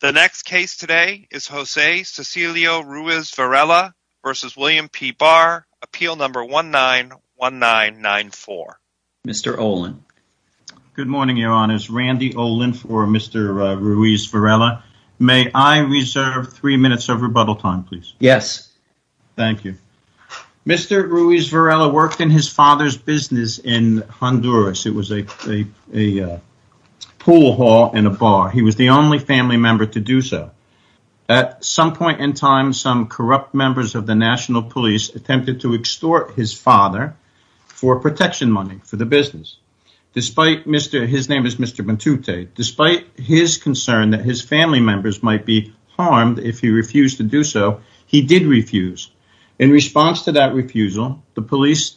The next case today is Jose Cecilio Ruiz Varela v. William P. Barr, appeal number 19194. Mr. Olin. Good morning, your honors. Randy Olin for Mr. Ruiz Varela. May I reserve three minutes of rebuttal time, please? Yes. Thank you. Mr. Ruiz Varela worked in his father's business in Honduras. It was a pool hall and a bar. He was the only family member to do so. At some point in time, some corrupt members of the national police attempted to extort his father for protection money for the business. His name is Mr. Bantute. Despite his concern that his family members might be harmed if he refused to do so, he did refuse. In response to that refusal, the police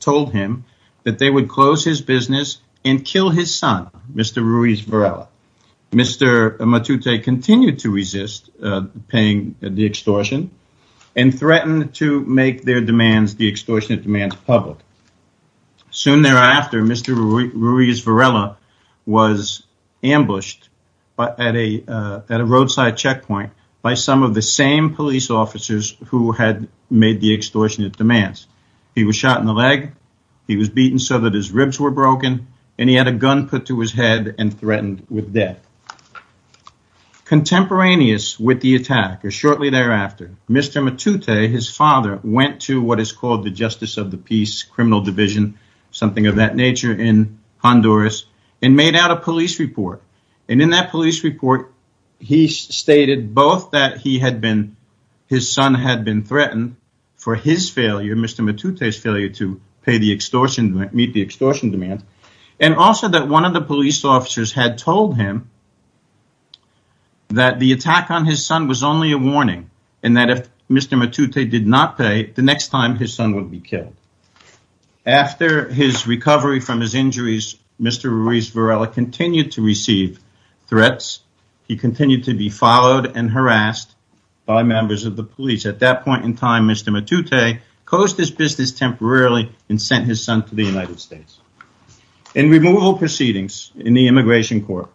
told him that they would close his business and kill his son, Mr. Ruiz Varela. Mr. Bantute continued to resist paying the extortion and threatened to make the extortion demands public. Soon thereafter, Mr. Ruiz Varela was ambushed at a roadside checkpoint by some of the same police officers who had made the extortionate demands. He was shot in the leg, he was beaten so that his ribs were broken, and he had a gun put to his head and threatened with death. Contemporaneous with the attack, or shortly thereafter, Mr. Bantute, his father, went to what is called the Justice of the Peace Criminal Division, something of a police report. In that police report, he stated both that his son had been threatened for his failure, Mr. Bantute's failure to meet the extortion demand, and also that one of the police officers had told him that the attack on his son was only a warning and that if Mr. Bantute did not pay, the next time his son would be killed. After his recovery from his injuries, Mr. Ruiz Varela continued to receive threats. He continued to be followed and harassed by members of the police. At that point in time, Mr. Bantute closed his business temporarily and sent his son to the United States. In removal proceedings in the immigration court,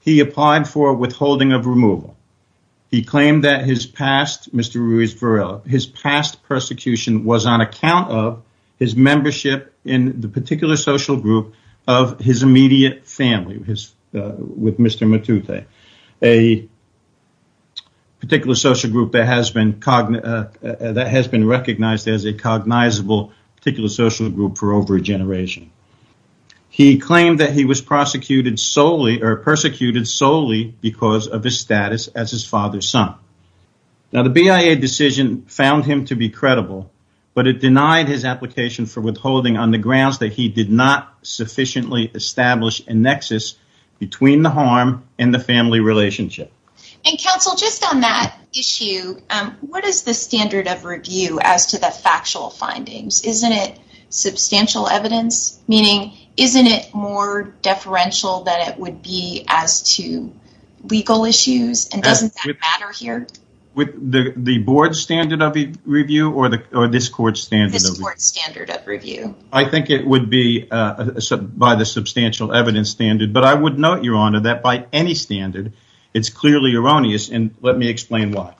he applied for withholding of removal. He claimed that his past persecution was on account of his membership in the particular social group of his immediate family with Mr. Bantute, a particular social group that has been recognized as a cognizable particular social group for over a generation. He claimed that he was persecuted solely because of his status as his father's son. The BIA decision found him to be established a nexus between the harm and the family relationship. And counsel, just on that issue, what is the standard of review as to the factual findings? Isn't it substantial evidence? Meaning, isn't it more deferential than it would be as to legal by the substantial evidence standard? But I would note, Your Honor, that by any standard, it's clearly erroneous and let me explain why.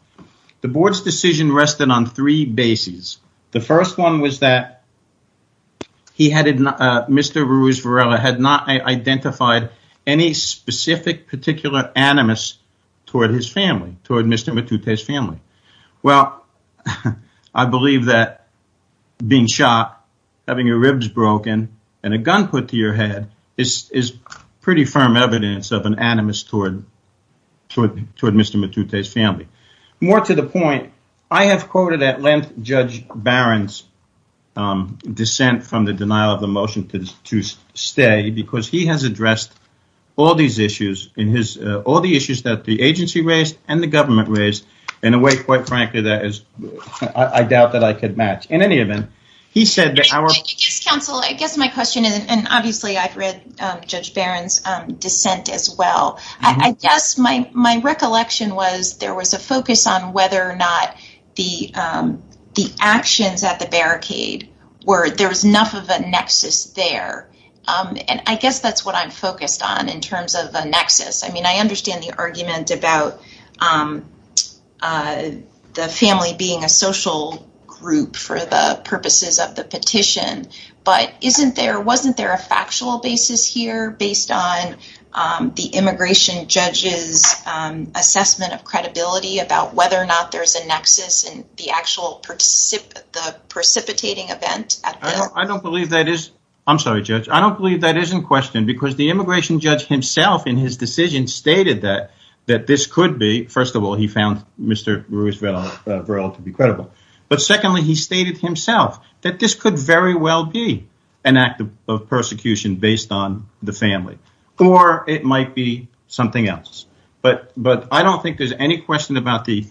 The board's decision rested on three bases. The first one was that Mr. Ruiz Varela had not identified any specific particular animus toward his family, toward Mr. Bantute's family. Well, I believe that being shot, having your ribs broken and a gun put to your head is pretty firm evidence of an animus toward Mr. Bantute's family. More to the point, I have quoted at length Judge Barron's dissent from the denial of the motion to stay because he has addressed all these issues, all the issues that the agency raised and the government raised in a way, quite frankly, that I doubt that I could match in any event. I guess my question is, and obviously, I've read Judge Barron's dissent as well. I guess my recollection was there was a focus on whether or not the actions at the barricade were, there was enough of a nexus there. I guess that's what I'm focused on in understanding the argument about the family being a social group for the purposes of the petition, but isn't there, wasn't there a factual basis here based on the immigration judge's assessment of credibility about whether or not there's a nexus in the actual precipitating event? I don't believe that is, I'm sorry Judge, I don't believe that is in question because the immigration judge himself in his decision stated that this could be, first of all, he found Mr. Ruiz-Varel to be credible, but secondly, he stated himself that this could very well be an act of persecution based on the family or it might be something else, but I don't think there's any question about the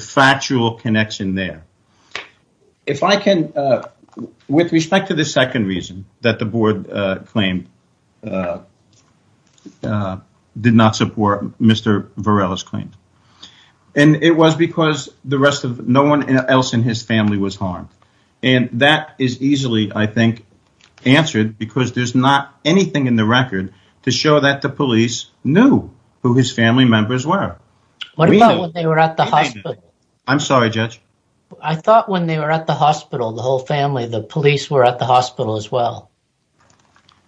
factual connection there. If I can, with respect to the second reason that the board did not support Mr. Varel's claim and it was because the rest of no one else in his family was harmed and that is easily, I think, answered because there's not anything in the record to show that the police knew who his family members were. What about when they were at the hospital? I'm sorry Judge. I thought when they were at the hospital, the whole family, the police were at the hospital as well.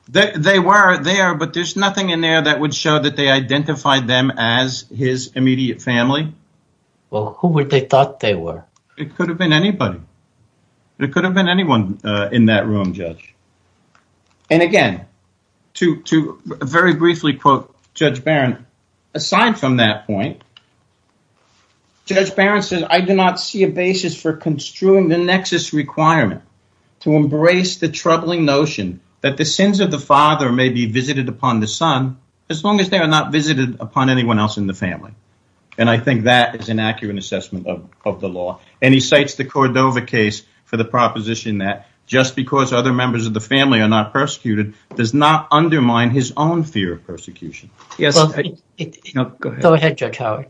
They were there, but there's nothing in there that would show that they identified them as his immediate family. Well, who would they thought they were? It could have been anybody. It could have been anyone in that room, Judge. And again, to very briefly quote Judge Barron, aside from that point, Judge Barron says, I do not see a basis for construing the nexus requirement to embrace the troubling notion that the sins of the father may be visited upon the son as long as they are not visited upon anyone else in the family. And I think that is an accurate assessment of the law. And he cites the Cordova case for the proposition that just because other members of the family are not persecuted does not undermine his own fear of persecution. Go ahead, Judge Howard.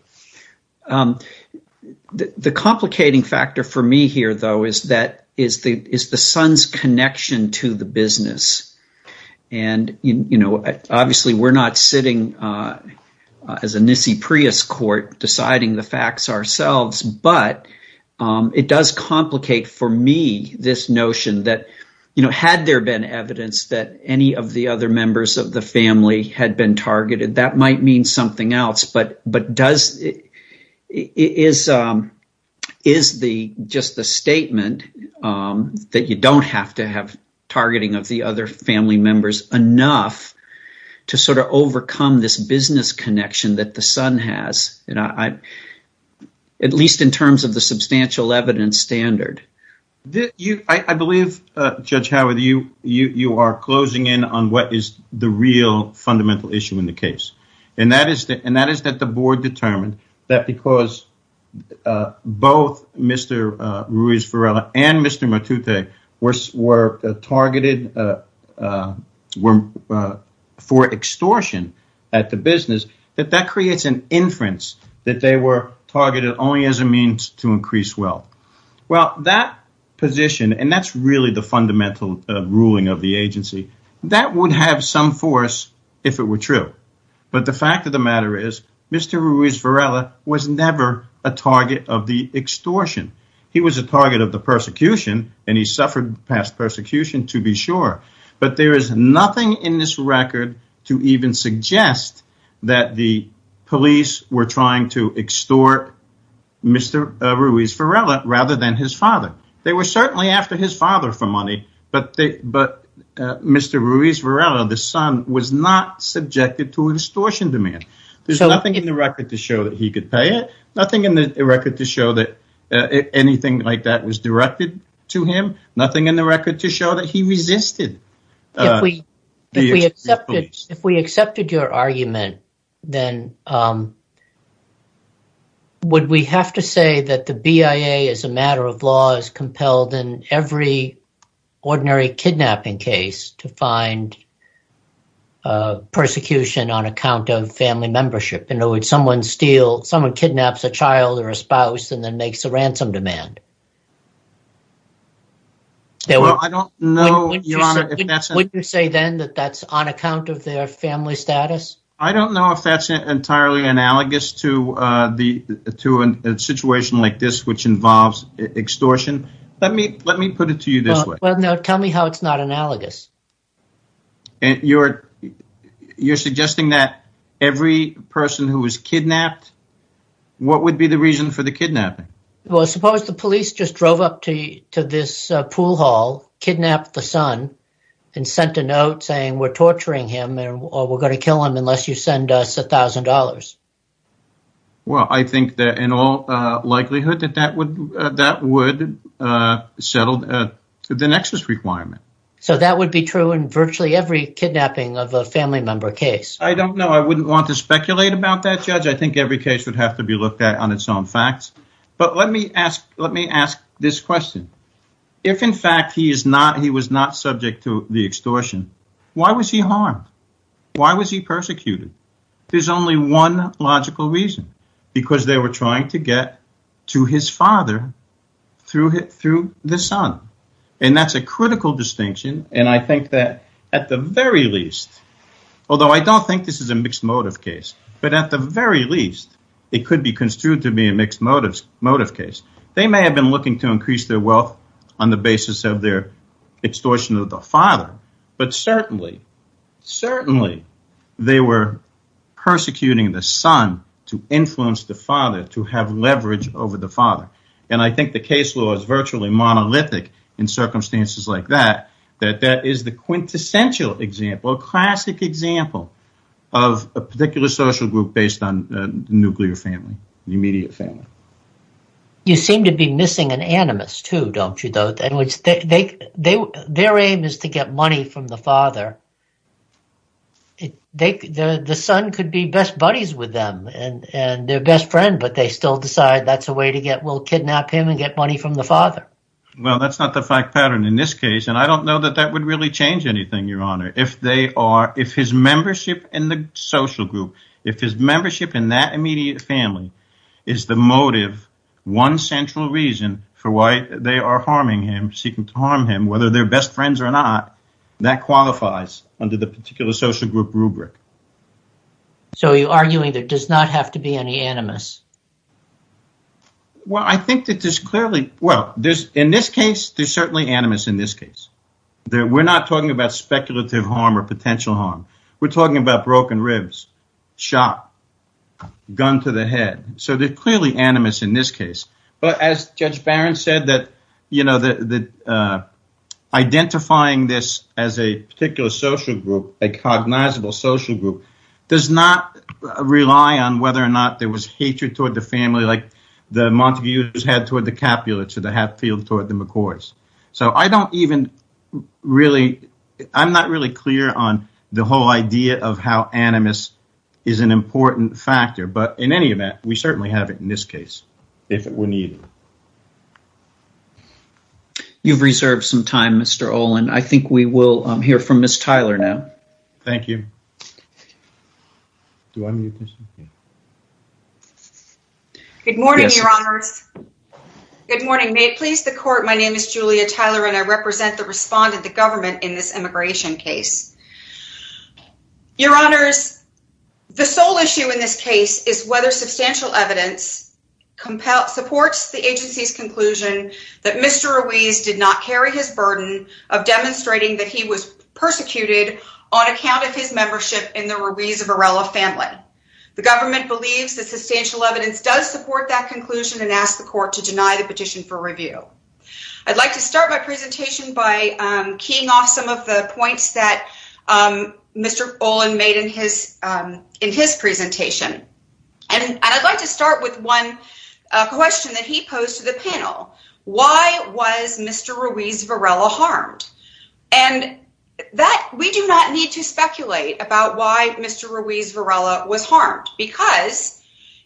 The complicating factor for me here, though, is that is the son's connection to the business. And, you know, obviously we're not sitting as a Nissi Prius court deciding the facts ourselves, but it does complicate for me this notion that, you know, had there been evidence that any of the other members of the family had been targeted, that might mean something else. But is just the statement that you don't have to have targeting of the other family members enough to sort of overcome this business connection that the son has, at least in terms of the substantial evidence standard? I believe, Judge Howard, you are closing in on what is the real fundamental issue in the case, and that is that the board determined that because both Mr. Ruiz-Varela and Mr. Matute were targeted for extortion at the business, that that creates an inference that they were targeted only as a means to increase wealth. Well, that position, and that's really the fundamental ruling of the agency, that would have some force if it were true. But the fact of the matter is, Mr. Ruiz-Varela was never a target of the extortion. He was a target of the persecution, and he suffered past persecution to be sure. But there is nothing in this record to even suggest that the police were trying to extort Mr. Ruiz-Varela rather than his father. They were certainly after his father for money, but Mr. Ruiz-Varela, the son, was not subjected to an extortion demand. There's nothing in the record to show that he could pay it. Nothing in the record to show that anything like that was directed to him. Nothing in the record to show that he resisted. If we accepted your argument, then would we have to say that the BIA as a matter of law is compelled in every ordinary kidnapping case to find persecution on account of family membership? In other words, someone kidnaps a child or a spouse and then makes a Would you say then that that's on account of their family status? I don't know if that's entirely analogous to a situation like this, which involves extortion. Let me put it to you this way. Well, no, tell me how it's not analogous. You're suggesting that every person who was kidnapped, what would be the reason for the kidnapping? Well, suppose the police just drove up to this pool hall, kidnapped the son, and sent a note saying, we're torturing him or we're going to kill him unless you send us $1,000. Well, I think that in all likelihood that would settle the nexus requirement. So that would be true in virtually every kidnapping of a family member case? I don't know. I wouldn't want to speculate about that, Judge. I think every case would have to be looked at on its own facts. But let me ask this question. If in fact he was not subject to the extortion, why was he harmed? Why was he persecuted? There's only one logical reason, because they were trying to get to his father through the son. And that's a critical distinction. And I think that at the very least, although I don't think this is a mixed motive case, but at the very least, it could be construed to be a mixed motive case. They may have been looking to increase their wealth on the basis of their extortion of the father, but certainly they were persecuting the son to influence the father to have leverage over the father. And I think the case law is virtually monolithic in circumstances like that, that that is the quintessential example, classic example of a particular social group based on nuclear family, immediate family. You seem to be missing an animus too, don't you? Their aim is to get money from the father. The son could be best buddies with them and their best friend, but they still decide that's a way to get will kidnap him and get money from the father. Well, that's not the fact pattern in this case. And I don't know that that would really change anything, your honor, if they are, if his membership in the social group, if his membership in that immediate family is the motive, one central reason for why they are harming him, seeking to harm him, whether they're best friends or not, that qualifies under the particular social group rubric. So you're arguing that does not have to be any animus? Well, I think that there's clearly, well, there's in this case, there's certainly animus in this case, that we're not talking about speculative harm or potential harm. We're talking about broken ribs, shot, gun to the head. So they're clearly animus in this case. But as Judge Barron said that, you know, that identifying this as a particular social group, a cognizable social group does not rely on whether or not there was hatred toward the family, like the Montague's head toward the Capulets or the Hatfield toward the McCoys. So I don't even really, I'm not really clear on the whole idea of how animus is an important factor, but in any event, we certainly have it in this case. If it were needed. You've reserved some time, Mr. Olin. I think we will hear from Good morning. May it please the court. My name is Julia Tyler and I represent the respondent, the government in this immigration case. Your honors, the sole issue in this case is whether substantial evidence supports the agency's conclusion that Mr. Ruiz did not carry his burden of demonstrating that he was persecuted on account of his membership in the Ruiz-Varela family. The government believes that substantial evidence does support that conclusion and asked the court to deny the petition for review. I'd like to start my presentation by keying off some of the points that Mr. Olin made in his in his presentation. And I'd like to start with one question that he posed to the panel. Why was Mr. Ruiz-Varela harmed? And that we do not need to speculate about why Mr. Ruiz-Varela was harmed. Because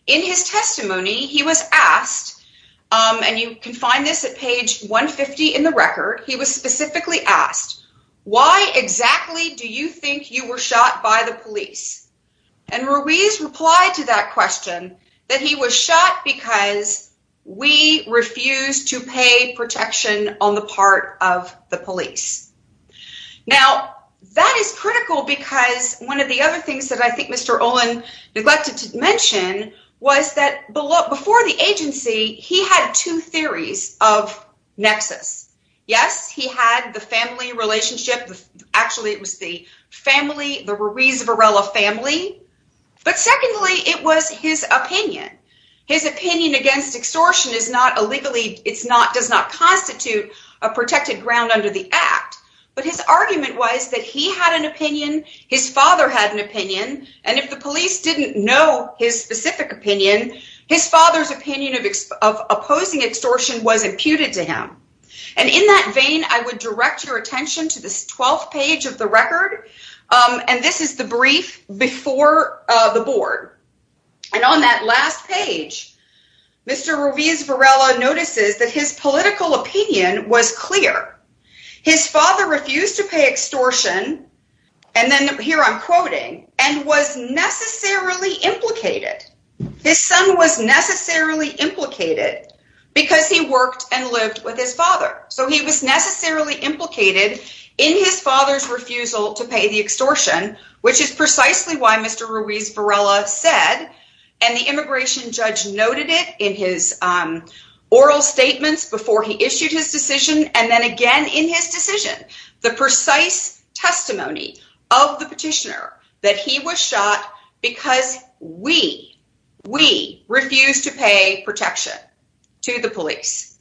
in his testimony, he was asked, and you can find this at page 150 in the record, he was specifically asked, why exactly do you think you were shot by the police? And Ruiz replied to that question that he was shot because we refused to pay protection on the part of the police. Now, that is critical because one of the other things that I think Mr. Olin neglected to mention was that before the agency, he had two theories of nexus. Yes, he had the family relationship. Actually, it was the family, the Ruiz-Varela family. But secondly, it was his opinion. His opinion against extortion is not illegally, it's not, does not constitute a protected ground under the act. But his argument was that he had an opinion, his father had an opinion, and if the police didn't know his specific opinion, his father's opinion of opposing extortion was imputed to him. And in that vein, I would direct your attention to this 12th page of the record. And this is the brief before the board. And on that last page, Mr. Ruiz-Varela notices that his political opinion was clear. His father refused to pay extortion. And then here I'm quoting, and was necessarily implicated. His son was necessarily implicated because he worked and lived with his father. So he was necessarily implicated in his father's refusal to pay the extortion, which is precisely why Mr. Ruiz-Varela said, and the immigration judge noted it in his oral statements before he issued his decision, and then again in his decision, the precise testimony of the petitioner that he was shot because we, we refused to pay protection to the police.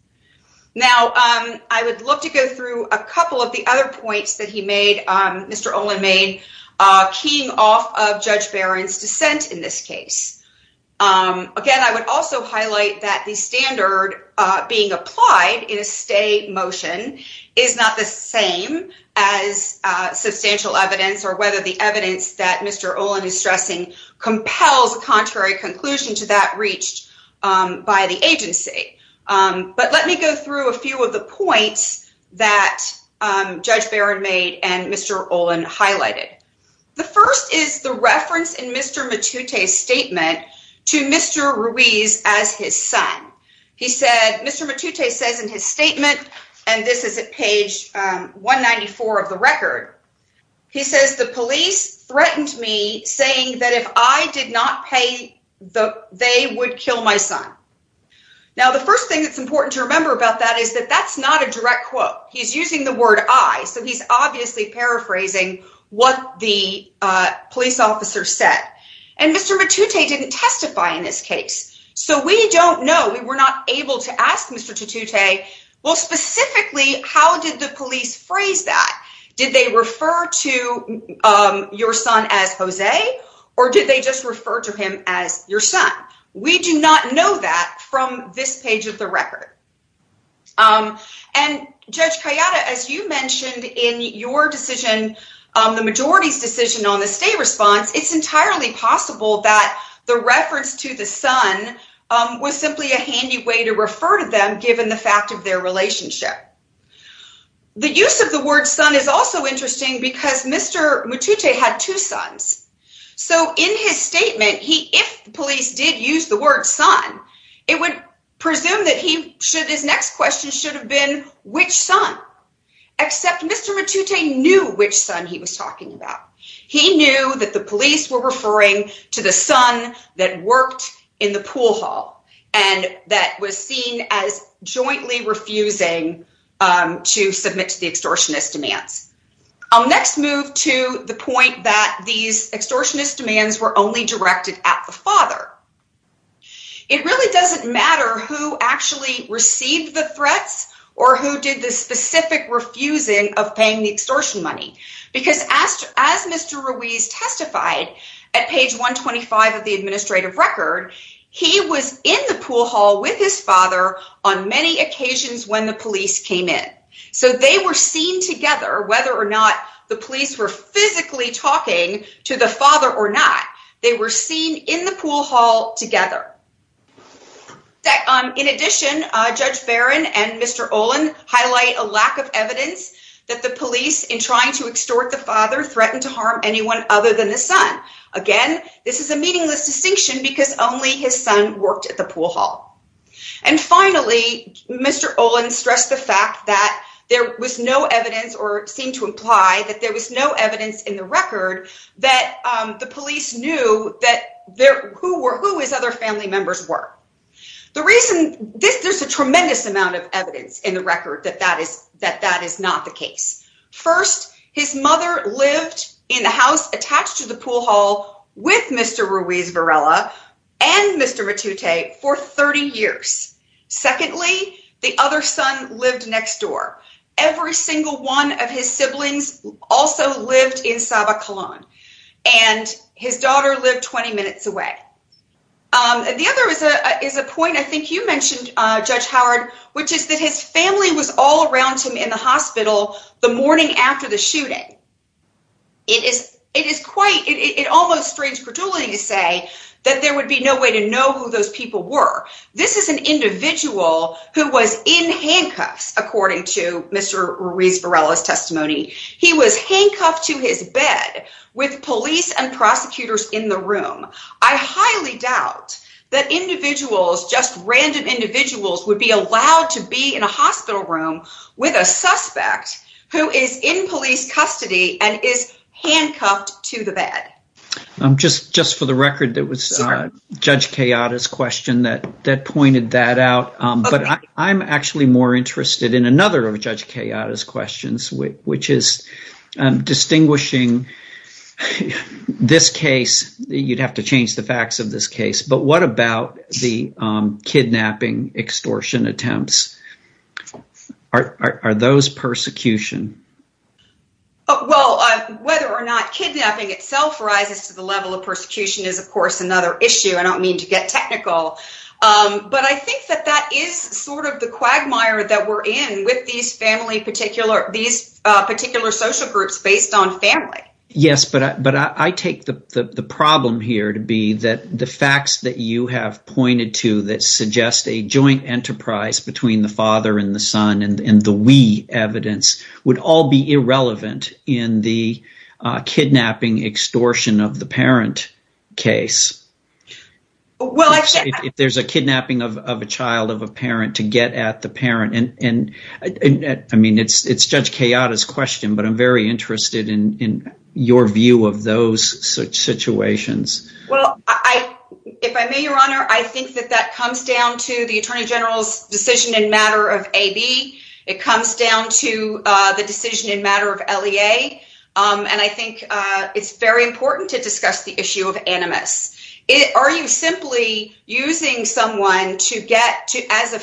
Now, I would love to go through a couple of the other points that he made, Mr. Olin made, keying off of Judge Barron's dissent in this case. Again, I would also highlight that the standard being applied in a stay motion is not the same as substantial evidence or whether the evidence that Mr. Olin is stressing compels a contrary conclusion to that highlighted. The first is the reference in Mr. Matute's statement to Mr. Ruiz as his son. He said, Mr. Matute says in his statement, and this is at page 194 of the record, he says, the police threatened me saying that if I did not pay, they would kill my son. Now, the first thing that's important to remember about that is that that's not a direct quote. He's using the word I, so he's obviously paraphrasing what the police officer said. And Mr. Matute didn't testify in this case. So we don't know, we were not able to ask Mr. Tutute, well, specifically, how did the police phrase that? Did they refer to your son as Jose, or did they just refer to him as your son? We do not know that from this page of the record. And Judge Kayada, as you mentioned in your decision, the majority's decision on the state response, it's entirely possible that the reference to the son was simply a handy way to refer to them, given the fact of their relationship. The use of the word son is also interesting because Mr. Matute had two sons. So in his statement, if the police did use the word son, it would presume that his next question should have been, which son? Except Mr. Matute knew which son he was talking about. He knew that the police were referring to the son that worked in the pool hall, and that was seen as jointly refusing to submit to the extortionist demands. I'll next move to the point that these extortionist demands were only directed at the It really doesn't matter who actually received the threats, or who did the specific refusing of paying the extortion money. Because as Mr. Ruiz testified at page 125 of the administrative record, he was in the pool hall with his father on many occasions when the police came in. So they were seen together, whether or not the police were physically talking to the father or not. They were seen in the pool hall together. In addition, Judge Barron and Mr. Olin highlight a lack of evidence that the police, in trying to extort the father, threatened to harm anyone other than the son. Again, this is a meaningless distinction because only his son worked at the pool hall. And finally, Mr. Olin stressed the fact that there was no evidence, or seemed to imply that there was no evidence in the record that the police knew who his other family members were. There's a tremendous amount of evidence in the record that that is not the case. First, his mother lived in the house attached to the pool hall with Mr. Ruiz Varela and Mr. Matute for 30 years. Secondly, the other son lived next door. Every single one of his siblings also lived in Sabah, Cologne. And his daughter lived 20 minutes away. The other is a point I think you mentioned, Judge Howard, which is that his family was all around him in the hospital the morning after the shooting. It is quite, it almost restrains credulity to say that there would be no way to know who those people were. This is an individual who was in handcuffs, according to Mr. Ruiz Varela's testimony. He was handcuffed to his bed with police and prosecutors in the room. I highly doubt that individuals, just random individuals, would be allowed to be in a hospital room with a suspect who is in police custody and is handcuffed to the bed. Just for the record, that was Judge Kayada's question that pointed that out, but I'm actually more interested in another of Judge Kayada's questions, which is distinguishing this case, you'd have to change the facts of this case, but what about the kidnapping extortion attempts? Are those persecution? Well, whether or not kidnapping itself rises to the level of persecution is, of course, another issue. I don't mean to get technical, but I think that that is sort of the quagmire that we're in with these particular social groups based on family. Yes, but I take the problem here to be that the facts that you have pointed to that suggest a joint enterprise between the father and the son and the we evidence would all be irrelevant in the kidnapping extortion of the parent case. Well, if there's a kidnapping of a child of a parent to get at the parent, and I mean, it's Judge Kayada's question, but I'm very interested in your view of those situations. Well, if I may, Your Honor, I think that that comes down to the Attorney General's decision in matter of AB. It comes down to the decision in matter of LEA, and I think it's very important to discuss the issue of animus. Are you simply using someone as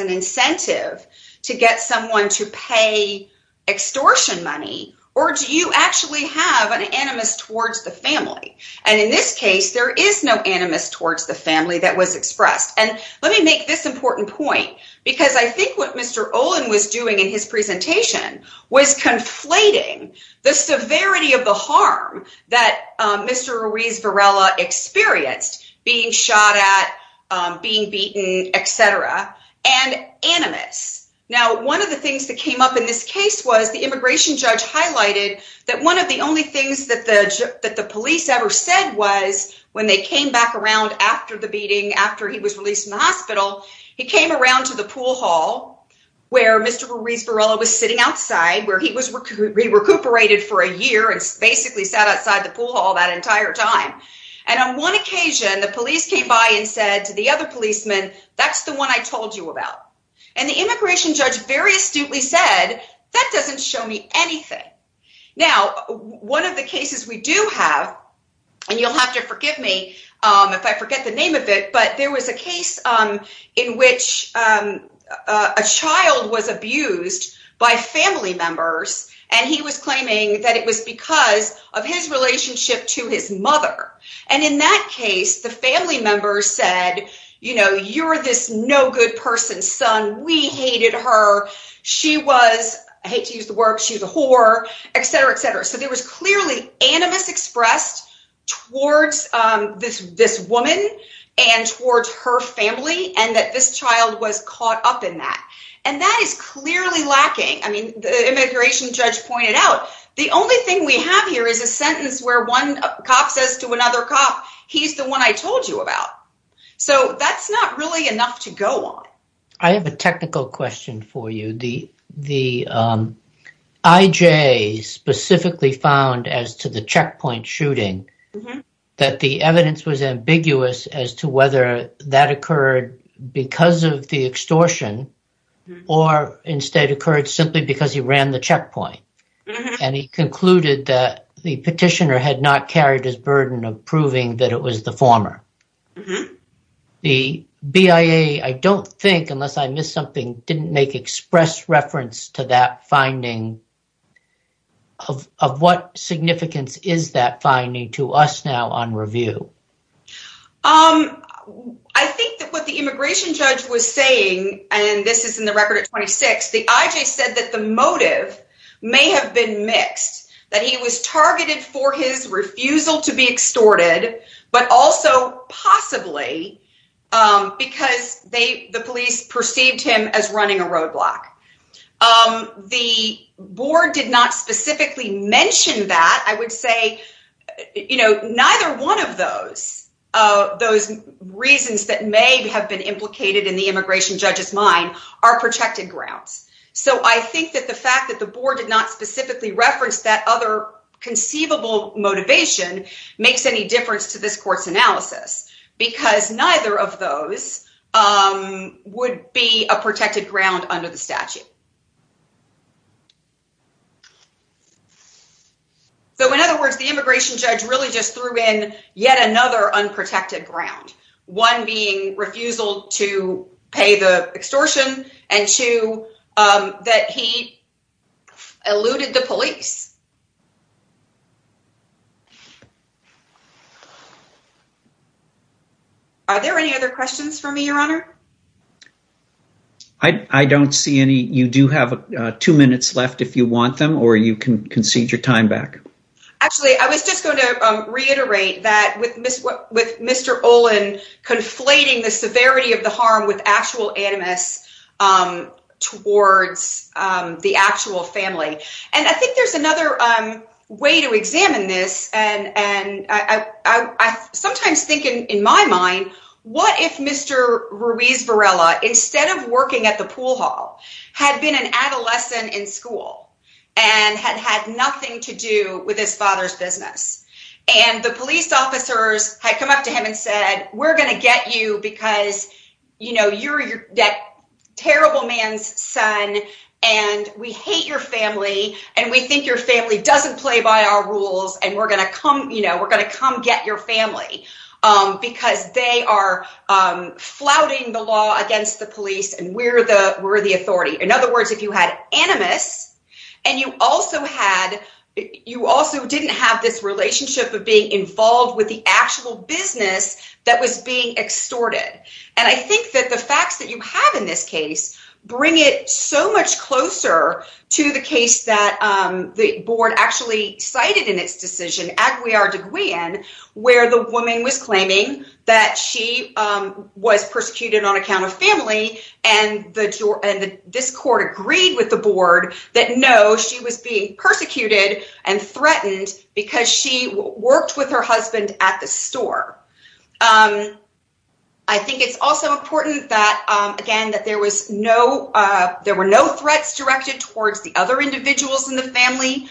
an incentive to get someone to pay extortion money, or do you actually have an animus towards the family? In this case, there is no animus towards the family that was expressed. Let me make this important point, because I think what Mr. Olin was doing in his presentation was conflating the severity of the harm that Mr. Ruiz Varela experienced being shot at, being beaten, etc., and animus. Now, one of the things that came up in this case was the immigration judge highlighted that one of the only things that the police ever said was when they came back around after the beating, after he was released from the hospital, he came around to the pool hall where Mr. Ruiz Varela was sitting outside, where he recuperated for a year and basically sat outside the pool hall that entire time, and on one occasion, the police came by and said to the other policemen, that's the one I told you about, and the immigration judge very astutely said, that doesn't show me anything. Now, one of the cases we do have, and you'll have to forgive me if I forget the name of it, but there was a case in which a child was abused by family members, and he was claiming that it was because of his relationship to his mother, and in that case, the family member said, you know, you're this no good person, son, we hated her, she was, I hate to use the word, she was a whore, etc., etc., so there was clearly animus expressed towards this woman and towards her family, and that this child was caught up in that, and that is clearly lacking. I mean, the immigration judge pointed out, the only thing we have here is a sentence where one cop says to another cop, he's the one I told you about, so that's not really enough to go on. I have a technical question for you. The IJ specifically found, as to the checkpoint shooting, that the evidence was ambiguous as to whether that occurred because of the extortion or instead occurred simply because he ran the checkpoint, and he concluded that the petitioner had not carried his burden of proving that it was the former. The BIA, I don't think, unless I missed something, didn't make express reference to that finding. Of what significance is that finding to us now on review? I think that what the immigration judge was saying, and this is in the record at 26, the IJ said that the motive may have been mixed, that he was targeted for his refusal to be extorted, but also possibly because the police perceived him as running a roadblock. The board did not specifically mention that. I would say, you know, neither one of those reasons that may have been implicated in the immigration judge's mind are protected grounds, so I think that the fact that the board did not specifically reference that other conceivable motivation makes any difference to this court's analysis because neither of those would be a protected ground under the statute. So, in other words, the immigration judge really just threw in another unprotected ground, one being refusal to pay the extortion and two that he eluded the police. Are there any other questions for me, your honor? I don't see any. You do have two minutes left if you want them or you can concede your time back. Actually, I was just going to reiterate that with Mr. Olin conflating the severity of the harm with actual animus towards the actual family, and I think there's another way to examine this, and I sometimes think in my mind, what if Mr. Ruiz Varela, instead of working at the pool hall, had been an adolescent in school and had had nothing to do with his father's business, and the police officers had come up to him and said, we're going to get you because, you know, you're that terrible man's son and we hate your family and we think your family doesn't play by our rules and we're going to come, you know, we're going to come get your family because they are flouting the law against the police and we're the authority. In other words, if you had animus and you also had, you also didn't have this relationship of being involved with the actual business that was being extorted, and I think that the facts that you have in this case bring it so much closer to the case that the board actually cited in its decision, Aguiar Deguian, where the was persecuted on account of family and this court agreed with the board that no, she was being persecuted and threatened because she worked with her husband at the store. I think it's also important that, again, that there was no, there were no threats directed towards the other individuals in the family.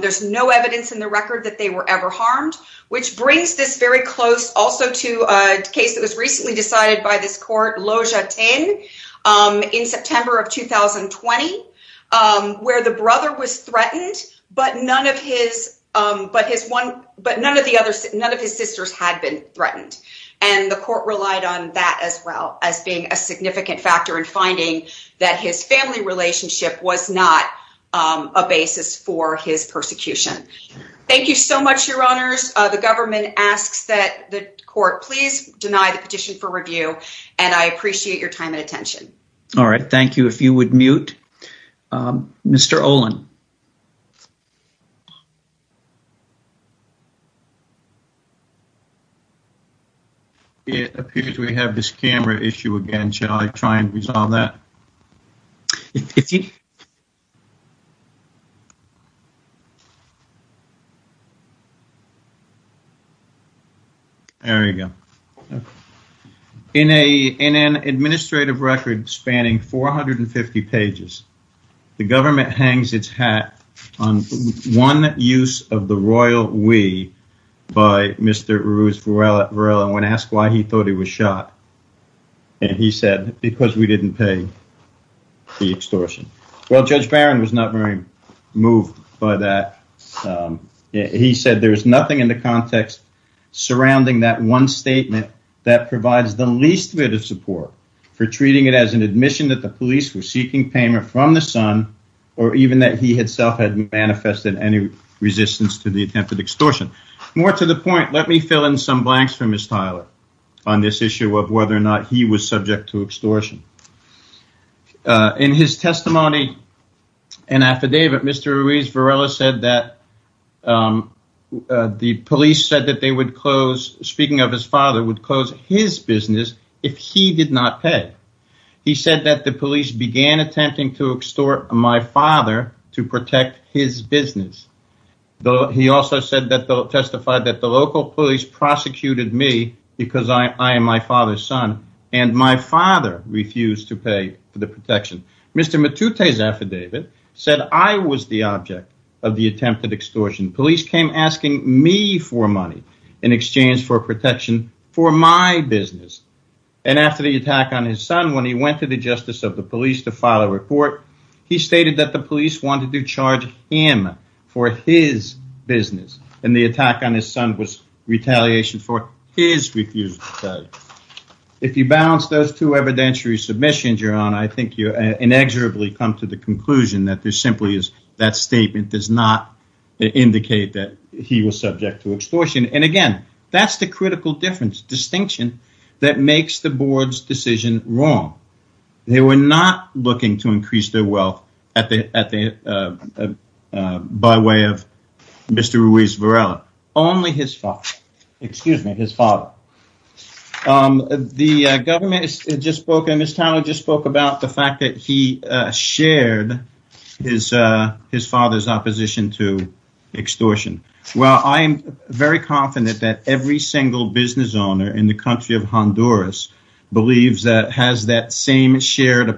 There's no evidence in the record that they were ever harmed, which brings this very close also to a case that was recently decided by this court, Loja Tin, in September of 2020, where the brother was threatened, but none of his, but his one, but none of the others, none of his sisters had been threatened. And the court relied on that as well as being a significant factor in finding that his family relationship was not a basis for his persecution. Thank you so much, your honors. The government asks that the court please deny the petition for review, and I appreciate your time and attention. All right. Thank you. If you would mute, Mr. Olin. It appears we have this camera issue again. Shall I try and resolve that? There we go. In an administrative record spanning 450 pages, the government hangs its hat on one use of the royal we by Mr. Ruz Varela, and when asked why he thought he was shot, and he said, because we didn't pay the extortion. Well, Judge Barron was not very moved by that. He said there was nothing in the context surrounding that one statement that provides the least bit of support for treating it as an admission that the police were seeking payment from the son, or even that he himself had manifested any resistance to the attempted extortion. More to the point, let me fill in some blanks for Ms. Tyler on this issue of whether or not he was subject to extortion. In his testimony and affidavit, Mr. Ruz Varela said that the police said that they would close, speaking of his father, would close his business if he did not pay. He said that the police began attempting to extort my father to protect his business. He also testified that the local police prosecuted me because I am my father's son, and my father refused to pay for the protection. Mr. Matute's affidavit said I was the object of the attempted extortion. Police came asking me for money in exchange for protection for my business, and after the attack on his son, when he went to the justice of the police to file a report, he stated that the police wanted to charge him for his business, and the attack on his son was retaliation for his refusal. If you balance those two evidentiary submissions, Your Honor, I think you inexorably come to the conclusion that that statement does not indicate that he was subject to extortion. Again, that's the critical distinction that makes the board's decision wrong. They were not looking to increase their wealth by way of Mr. Ruz Varela, only his father. The government just spoke about the fact that he shared his father's opposition to extortion. Well, I am very confident that every single business owner in the country of Honduras believes that has that same shared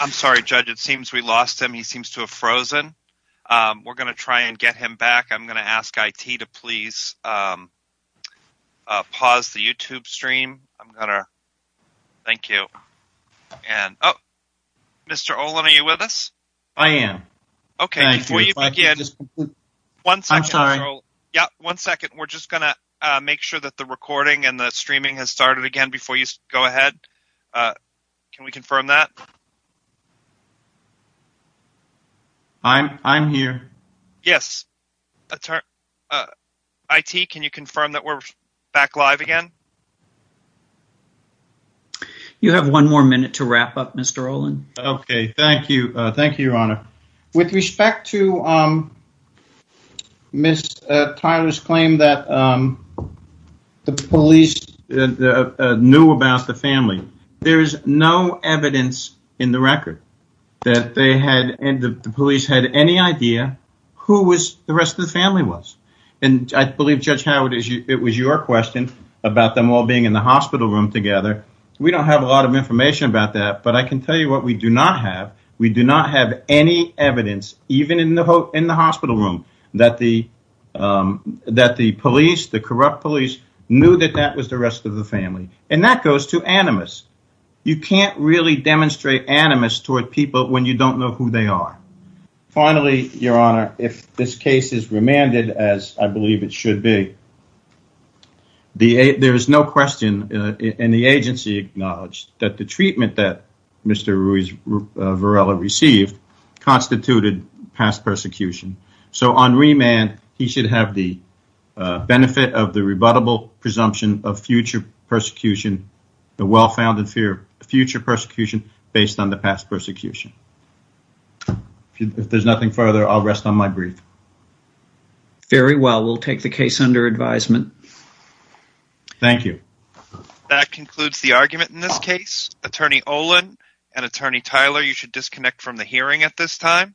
I'm sorry, Judge. It seems we lost him. He seems to have frozen. We're going to try and get him back. I'm going to ask IT to please pause the YouTube stream. Thank you. Mr. Olin, are you with us? I am. Yeah, one second. We're just going to make sure that the recording and the streaming has started again before you go ahead. Can we confirm that? I'm here. Yes. IT, can you confirm that we're back live again? You have one more minute to wrap up, Mr. Olin. Okay. Thank you. Thank you, Your Honor. With respect to Ms. Tyler's claim that the police knew about the family, there is no evidence in the record that the police had any idea who the rest of the family was. I believe, Judge Howard, it was your question about them all being in the hospital room together. We don't have a lot of information about that, but I can tell you what we do not have. We do not have any evidence, even in the hospital room, that the police, the corrupt police, knew that that was the rest of the family. And that goes to animus. You can't really demonstrate animus toward people when you don't know who they are. Finally, Your Honor, if this case is remanded as I believe it should be, there is no question in the agency acknowledged that the treatment that Mr. Ruiz Varela received constituted past persecution. So on remand, he should have the presumption of future persecution, the well-founded fear of future persecution, based on the past persecution. If there's nothing further, I'll rest on my brief. Very well. We'll take the case under advisement. Thank you. That concludes the argument in this case. Attorney Olin and Attorney Tyler, you should disconnect from the hearing at this time.